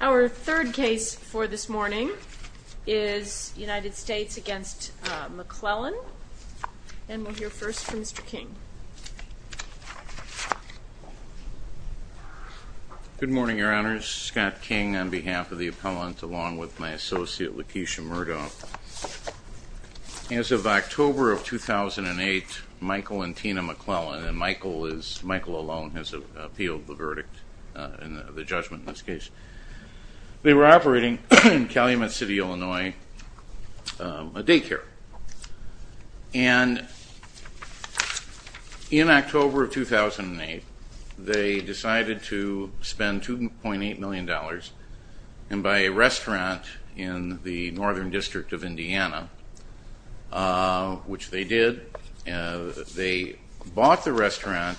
Our third case for this morning is United States v. McClellan. And we'll hear first from Mr. King. Good morning, Your Honors. Scott King on behalf of the appellant along with my associate, Lakeisha Murdoff. As of October of 2008, Michael and Tina McClellan, and Michael alone has appealed the verdict, the judgment in this case. They were operating in Calumet City, Illinois, a daycare. And in October of 2008, they decided to spend $2.8 million and buy a restaurant in the northern district of Indiana, which they did. They bought the restaurant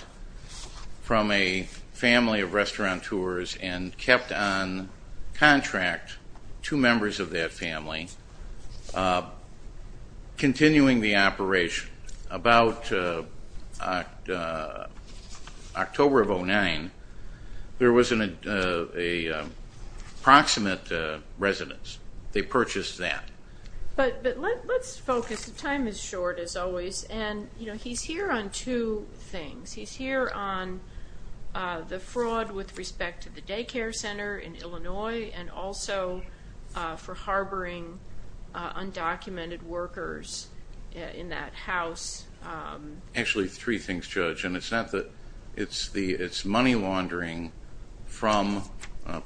from a family of restauranteurs and kept on contract two members of that family, continuing the operation. About October of 2009, there was an approximate residence. They purchased that. But let's focus. The time is short, as always. And he's here on two things. He's here on the fraud with respect to the daycare center in Illinois and also for harboring undocumented workers in that house. Actually, three things, Judge. And it's money laundering from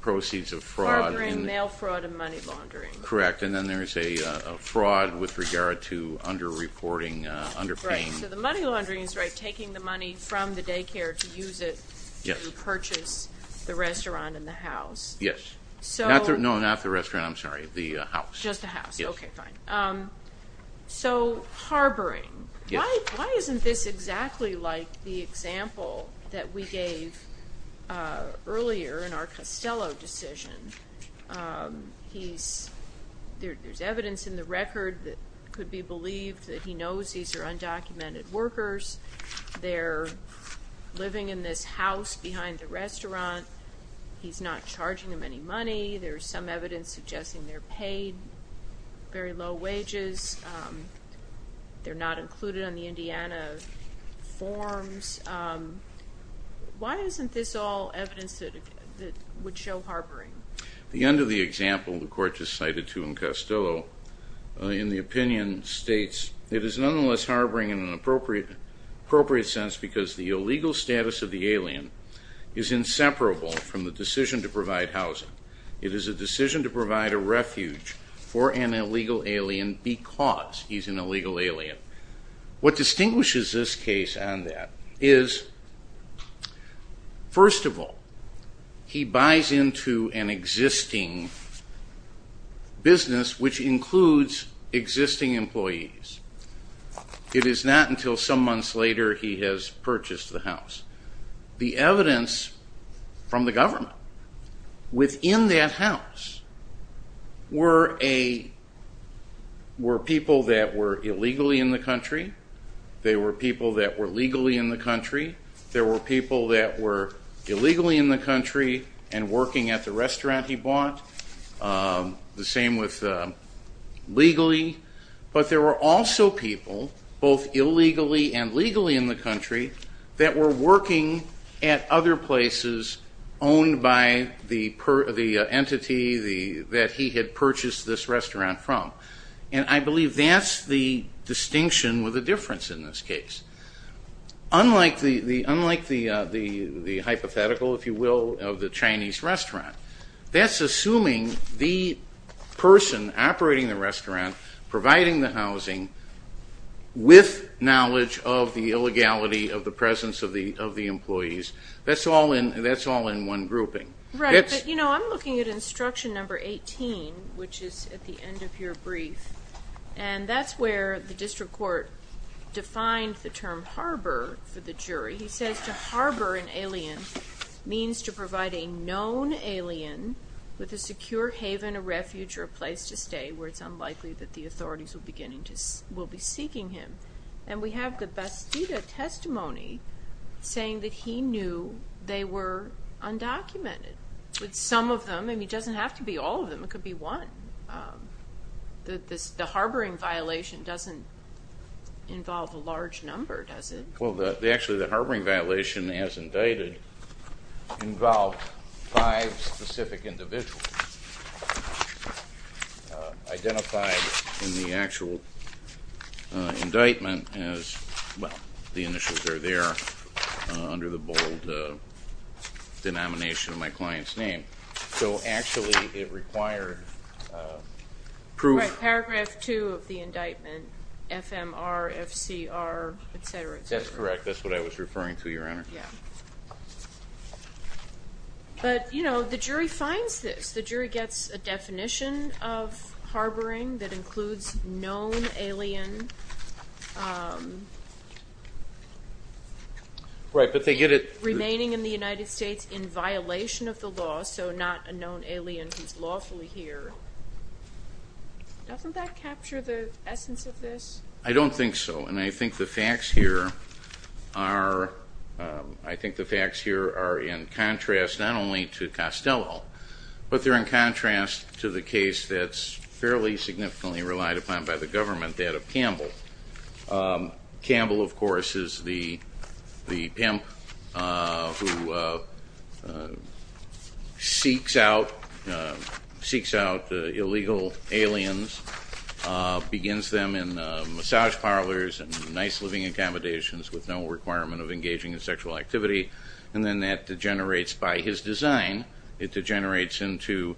proceeds of fraud. Harboring mail fraud and money laundering. Correct. And then there's a fraud with regard to underreporting, underpaying. Right. So the money laundering is taking the money from the daycare to use it to purchase the restaurant and the house. Yes. No, not the restaurant. I'm sorry. The house. Just the house. Okay, fine. So harboring. Why isn't this exactly like the example that we gave earlier in our Costello decision? There's evidence in the record that could be believed that he knows these are undocumented workers. They're living in this house behind the restaurant. He's not charging them any money. There's some evidence suggesting they're paid very low wages. They're not included on the Indiana forms. Why isn't this all evidence that would show harboring? The end of the example the court just cited to him, Costello, in the opinion states, it is nonetheless harboring in an appropriate sense because the illegal status of the alien is inseparable from the decision to provide housing. It is a decision to provide a refuge for an illegal alien because he's an illegal alien. What distinguishes this case on that is, first of all, he buys into an existing business which includes existing employees. It is not until some months later he has purchased the house. The evidence from the government within that house were people that were illegally in the country. They were people that were legally in the country. There were people that were illegally in the country and working at the restaurant he bought. The same with legally, but there were also people, both illegally and legally in the country, that were working at other places owned by the entity that he had purchased this restaurant from. I believe that's the distinction with a difference in this case. Unlike the hypothetical, if you will, of the Chinese restaurant, that's assuming the person operating the restaurant, providing the housing, with knowledge of the illegality of the presence of the employees. That's all in one grouping. I'm looking at instruction number 18, which is at the end of your brief, and that's where the district court defined the term harbor for the jury. He says to harbor an alien means to provide a known alien with a secure haven, a refuge, or a place to stay where it's unlikely that the authorities will be seeking him. We have the Bastida testimony saying that he knew they were undocumented. Some of them, and it doesn't have to be all of them, it could be one. The harboring violation doesn't involve a large number, does it? Well, actually, the harboring violation as indicted involved five specific individuals identified in the actual indictment as, well, the initials are there under the bold denomination of my client's name. So actually it required proof. Paragraph 2 of the indictment, FMR, FCR, et cetera, et cetera. That's correct. That's what I was referring to, Your Honor. But, you know, the jury finds this. The jury gets a definition of harboring that includes known alien remaining in the United States in violation of the law, so not a known alien who's lawfully here. Doesn't that capture the essence of this? I don't think so, and I think the facts here are in contrast not only to Costello, but they're in contrast to the case that's fairly significantly relied upon by the government, that of Campbell. Campbell, of course, is the pimp who seeks out illegal aliens, begins them in massage parlors and nice living accommodations with no requirement of engaging in sexual activity, and then that degenerates by his design. It degenerates into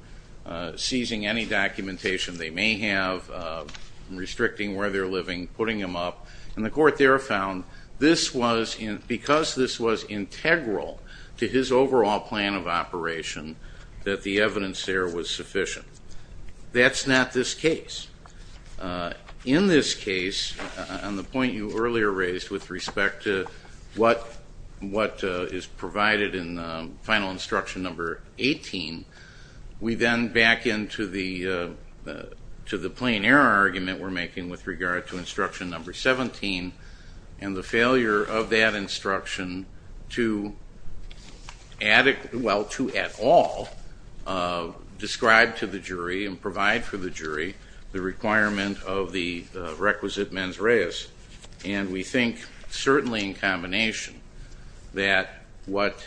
seizing any documentation they may have, restricting where they're living, putting them up, and the court there found this was, because this was integral to his overall plan of operation, that the evidence there was sufficient. That's not this case. In this case, on the point you earlier raised with respect to what is provided in final instruction number 18, we then back into the plain error argument we're making with regard to instruction number 17 and the failure of that instruction to, well, to at all describe to the jury and provide for the jury the requirement of the requisite mens reis. And we think certainly in combination that what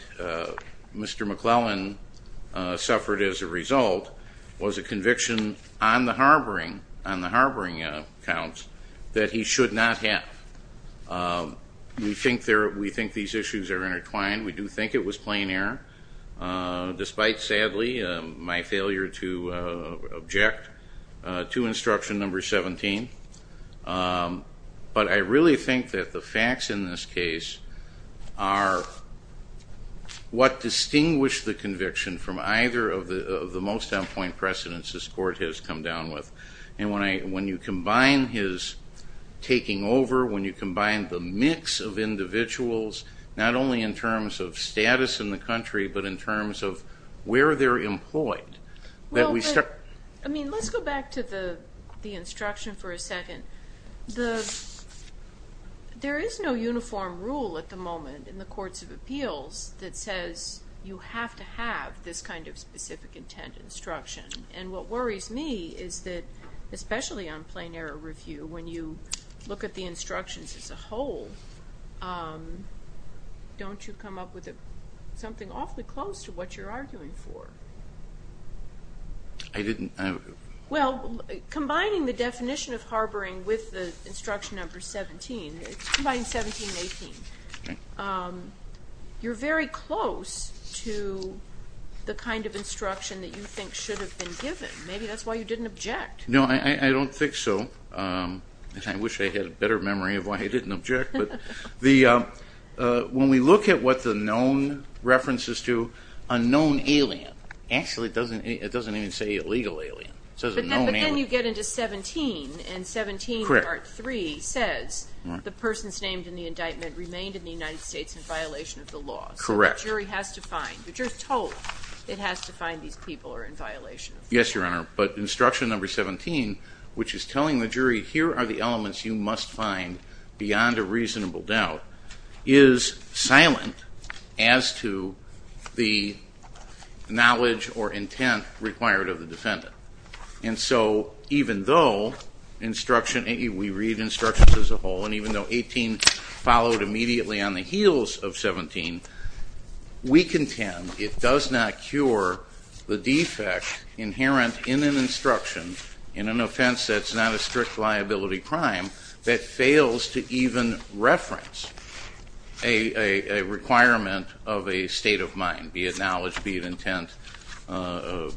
Mr. McClellan suffered as a result was a conviction on the harboring accounts that he should not have. We think these issues are intertwined. We do think it was plain error, despite, sadly, my failure to object to instruction number 17. But I really think that the facts in this case are what distinguished the conviction from either of the most down-point precedents this court has come down with. And when you combine his taking over, when you combine the mix of individuals, not only in terms of status in the country, but in terms of where they're employed, that we start I mean, let's go back to the instruction for a second. There is no uniform rule at the moment in the courts of appeals that says you have to have this kind of specific intent instruction. And what worries me is that, especially on plain error review, when you look at the instructions as a whole, don't you come up with something awfully close to what you're arguing for? I didn't... Well, combining the definition of harboring with the instruction number 17, combining 17 and 18, you're very close to the kind of instruction that you think should have been given. Maybe that's why you didn't object. No, I don't think so. I wish I had a better memory of why I didn't object. When we look at what the known reference is to a known alien, actually it doesn't even say illegal alien. But then you get into 17, and 17 part 3 says the person's name in the indictment remained in the United States in violation of the law. So the jury has to find, the jury is told it has to find these people are in violation of the law. Yes, Your Honor, but instruction number 17, which is telling the jury, here are the elements you must find beyond a reasonable doubt, is silent as to the knowledge or intent required of the defendant. And so even though instruction, we read instructions as a whole, and even though 18 followed immediately on the heels of 17, we contend it does not cure the defect inherent in an instruction in an offense that's not a strict liability crime, that fails to even reference a requirement of a state of mind, be it knowledge, be it intent,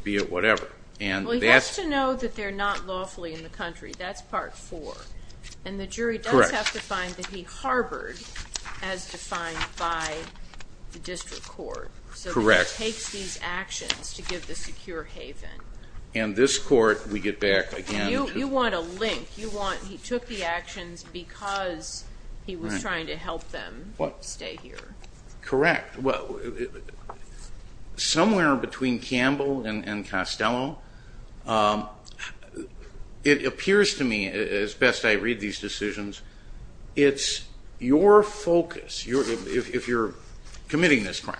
be it whatever. Well, he has to know that they're not lawfully in the country. That's part 4. And the jury does have to find that he harbored as defined by the district court. Correct. So he takes these actions to give the secure haven. And this court, we get back again. You want a link. He took the actions because he was trying to help them stay here. Correct. Somewhere between Campbell and Costello, it appears to me as best I read these decisions, it's your focus if you're committing this crime.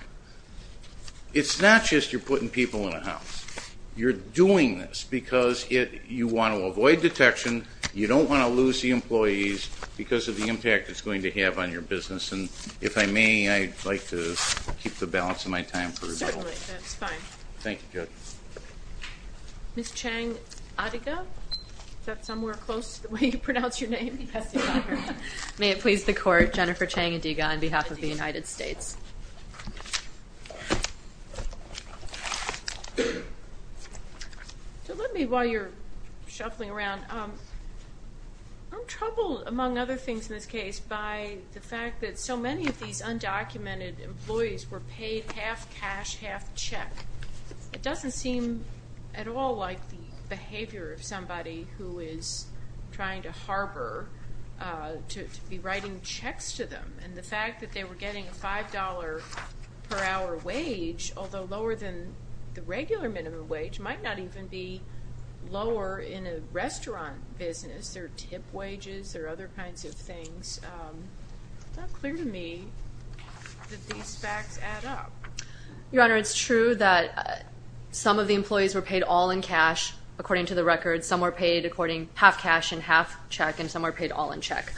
It's not just you're putting people in a house. You're doing this because you want to avoid detection. You don't want to lose the employees because of the impact it's going to have on your business. And if I may, I'd like to keep the balance of my time for rebuttal. Certainly. That's fine. Thank you, Judge. Ms. Chang-Adiga, is that somewhere close to the way you pronounce your name? May it please the court, Jennifer Chang-Adiga on behalf of the United States. So let me, while you're shuffling around, I'm troubled, among other things in this case, by the fact that so many of these undocumented employees were paid half cash, half check. It doesn't seem at all like the behavior of somebody who is trying to harbor to be writing checks to them. And the fact that they were getting a $5 per hour wage, although lower than the regular minimum wage, might not even be lower in a restaurant business. There are tip wages. There are other kinds of things. It's not clear to me that these facts add up. Your Honor, it's true that some of the employees were paid all in cash, according to the record. Some were paid half cash and half check, and some were paid all in check.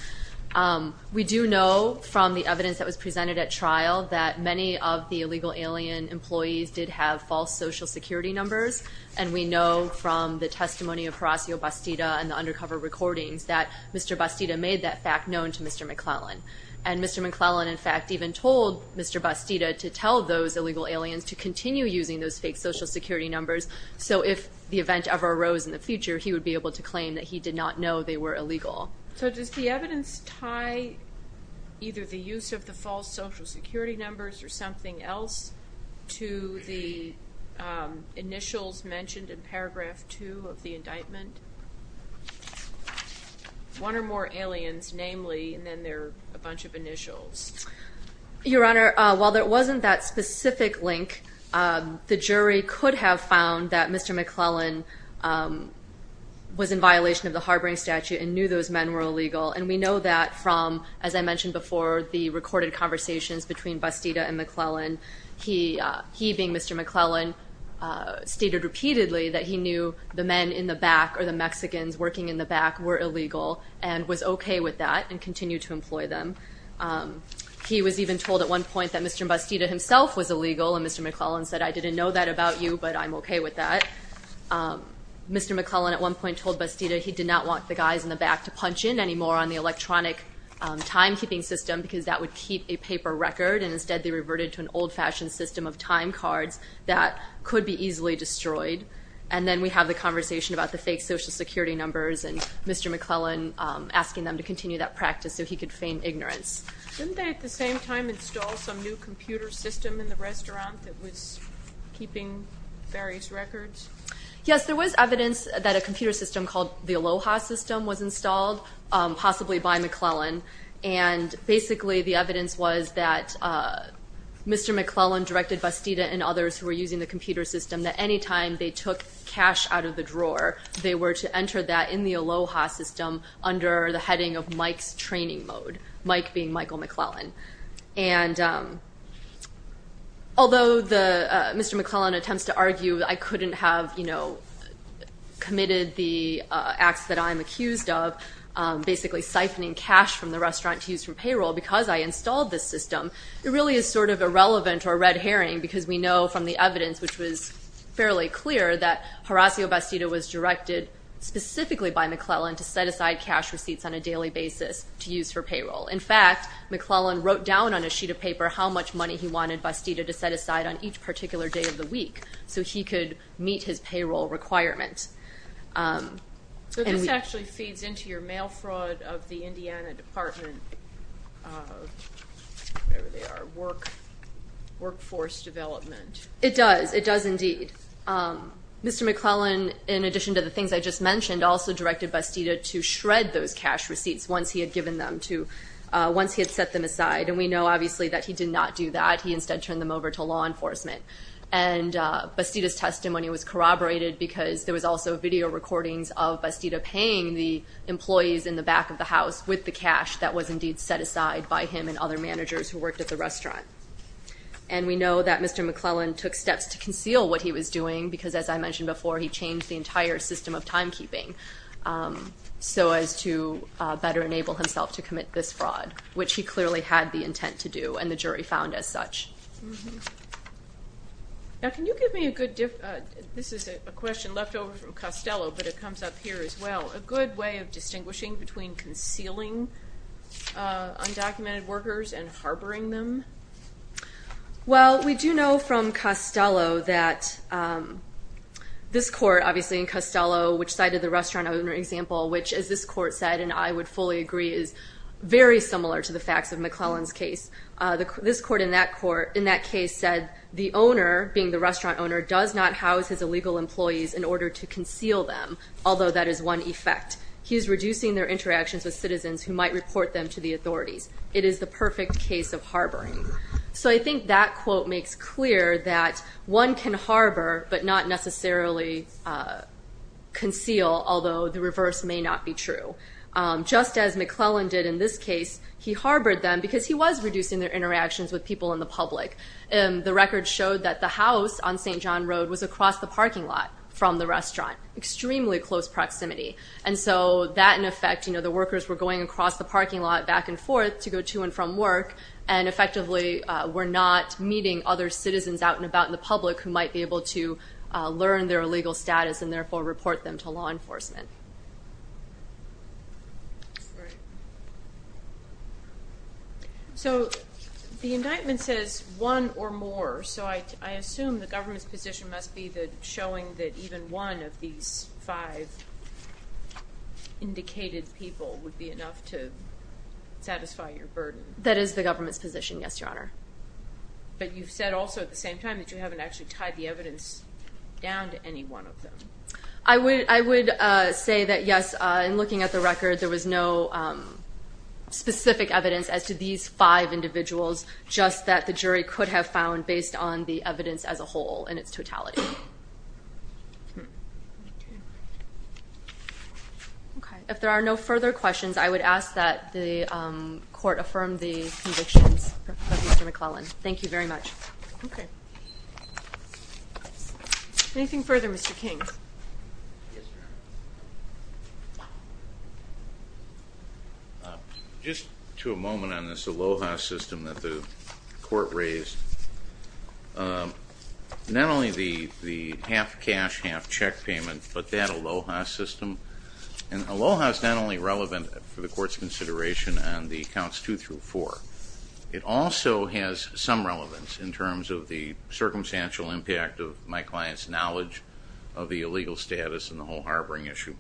We do know from the evidence that was presented at trial that many of the illegal alien employees did have false social security numbers. And we know from the testimony of Horacio Bastida and the undercover recordings that Mr. Bastida made that fact known to Mr. McClellan. And Mr. McClellan, in fact, even told Mr. Bastida to tell those illegal aliens to continue using those fake social security numbers, so if the event ever arose in the future, he would be able to claim that he did not know they were illegal. So does the evidence tie either the use of the false social security numbers or something else to the initials mentioned in paragraph 2 of the indictment? One or more aliens, namely, and then there are a bunch of initials. Your Honor, while there wasn't that specific link, the jury could have found that Mr. McClellan was in violation of the harboring statute and knew those men were illegal. And we know that from, as I mentioned before, the recorded conversations between Bastida and McClellan. He, being Mr. McClellan, stated repeatedly that he knew the men in the back or the Mexicans working in the back were illegal and was okay with that and continued to employ them. He was even told at one point that Mr. Bastida himself was illegal, and Mr. McClellan said, I didn't know that about you, but I'm okay with that. Mr. McClellan at one point told Bastida he did not want the guys in the back to punch in anymore on the electronic timekeeping system because that would keep a paper record, and instead they reverted to an old-fashioned system of time cards that could be easily destroyed. And then we have the conversation about the fake Social Security numbers and Mr. McClellan asking them to continue that practice so he could feign ignorance. Didn't they at the same time install some new computer system in the restaurant that was keeping various records? Yes, there was evidence that a computer system called the Aloha system was installed, possibly by McClellan, and basically the evidence was that Mr. McClellan directed Bastida and others who were using the computer system that any time they took cash out of the drawer, they were to enter that in the Aloha system under the heading of Mike's training mode, Mike being Michael McClellan. Although Mr. McClellan attempts to argue I couldn't have committed the acts that I'm accused of, basically siphoning cash from the restaurant to use for payroll because I installed this system, it really is sort of irrelevant or a red herring because we know from the evidence, which was fairly clear, that Horacio Bastida was directed specifically by McClellan to set aside cash receipts on a daily basis to use for payroll. In fact, McClellan wrote down on a sheet of paper how much money he wanted Bastida to set aside on each particular day of the week so he could meet his payroll requirements. So this actually feeds into your mail fraud of the Indiana Department of Workforce Development. It does, it does indeed. Mr. McClellan, in addition to the things I just mentioned, also directed Bastida to shred those cash receipts once he had set them aside, and we know obviously that he did not do that. He instead turned them over to law enforcement. And Bastida's testimony was corroborated because there was also video recordings of Bastida paying the employees in the back of the house with the cash that was indeed set aside by him and other managers who worked at the restaurant. And we know that Mr. McClellan took steps to conceal what he was doing because, as I mentioned before, he changed the entire system of timekeeping so as to better enable himself to commit this fraud, which he clearly had the intent to do and the jury found as such. Now, can you give me a good difference? This is a question left over from Costello, but it comes up here as well. A good way of distinguishing between concealing undocumented workers and harboring them? Well, we do know from Costello that this court, obviously in Costello, which cited the restaurant owner example, which, as this court said, and I would fully agree is very similar to the facts of McClellan's case, this court in that case said the owner, being the restaurant owner, does not house his illegal employees in order to conceal them, although that is one effect. He is reducing their interactions with citizens who might report them to the authorities. It is the perfect case of harboring. So I think that quote makes clear that one can harbor but not necessarily conceal, although the reverse may not be true. Just as McClellan did in this case, he harbored them because he was reducing their interactions with people in the public. The record showed that the house on St. John Road was across the parking lot from the restaurant, extremely close proximity, and so that, in effect, the workers were going across the parking lot back and forth to go to and from work and effectively were not meeting other citizens out and about in the public who might be able to learn their illegal status and therefore report them to law enforcement. So the indictment says one or more, so I assume the government's position must be showing that even one of these five indicated people would be enough to satisfy your burden. That is the government's position, yes, Your Honor. But you've said also at the same time that you haven't actually tied the evidence down to any one of them. I would say that, yes, in looking at the record, there was no specific evidence as to these five individuals, just that the jury could have found based on the evidence as a whole in its totality. Okay. If there are no further questions, I would ask that the court affirm the convictions of Mr. McClellan. Thank you very much. Okay. Anything further, Mr. King? Yes, Your Honor. Just to a moment on this ALOHA system that the court raised, not only the half cash, half check payment, but that ALOHA system. And ALOHA is not only relevant for the court's consideration on the counts two through four. It also has some relevance in terms of the circumstantial impact of my client's knowledge of the illegal status and the whole harboring issue.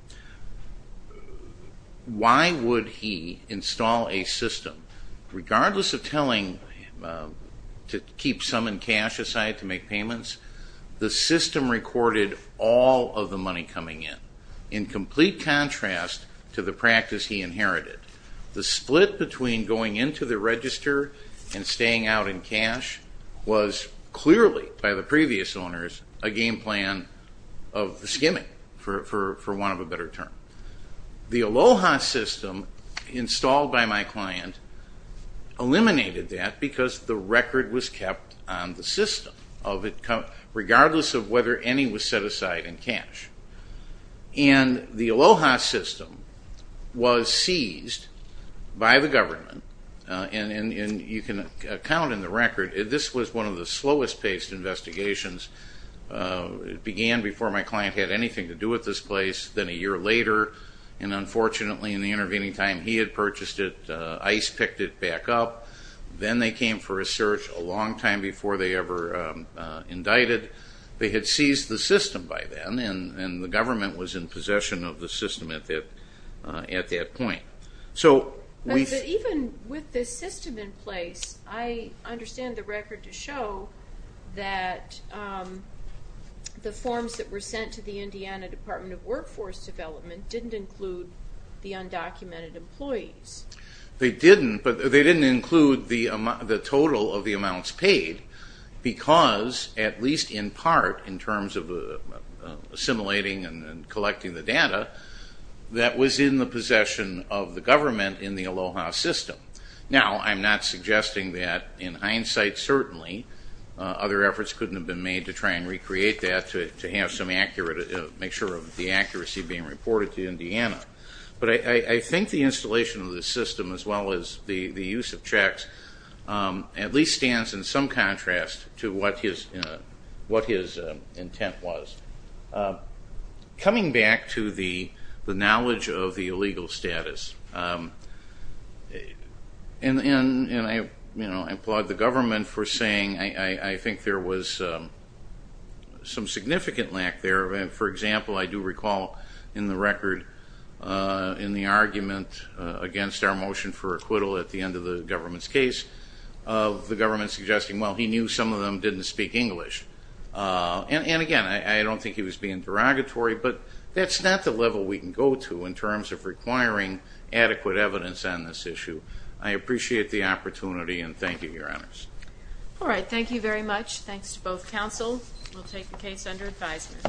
Why would he install a system, regardless of telling to keep some in cash aside to make payments, the system recorded all of the money coming in, in complete contrast to the practice he inherited. The split between going into the register and staying out in cash was clearly, by the previous owners, a game plan of skimming, for want of a better term. The ALOHA system installed by my client eliminated that because the record was kept on the system, regardless of whether any was set aside in cash. And the ALOHA system was seized by the government, and you can account in the record, this was one of the slowest-paced investigations. It began before my client had anything to do with this place, then a year later, and unfortunately in the intervening time he had purchased it, ICE picked it back up. Then they came for a search a long time before they ever indicted. They had seized the system by then, and the government was in possession of the system at that point. Even with this system in place, I understand the record to show that the forms that were sent to the Indiana Department of Workforce Development didn't include the undocumented employees. They didn't, but they didn't include the total of the amounts paid, because, at least in part, in terms of assimilating and collecting the data, that was in the possession of the government in the ALOHA system. Now, I'm not suggesting that in hindsight, certainly, other efforts couldn't have been made to try and recreate that to make sure of the accuracy being reported to Indiana. But I think the installation of the system, as well as the use of checks, at least stands in some contrast to what his intent was. Coming back to the knowledge of the illegal status, and I applaud the government for saying I think there was some significant lack there. For example, I do recall in the record, in the argument against our motion for acquittal at the end of the government's case, of the government suggesting, well, he knew some of them didn't speak English. And again, I don't think he was being derogatory, but that's not the level we can go to in terms of requiring adequate evidence on this issue. I appreciate the opportunity, and thank you, Your Honors. All right, thank you very much. Thanks to both counsel. We'll take the case under advisement.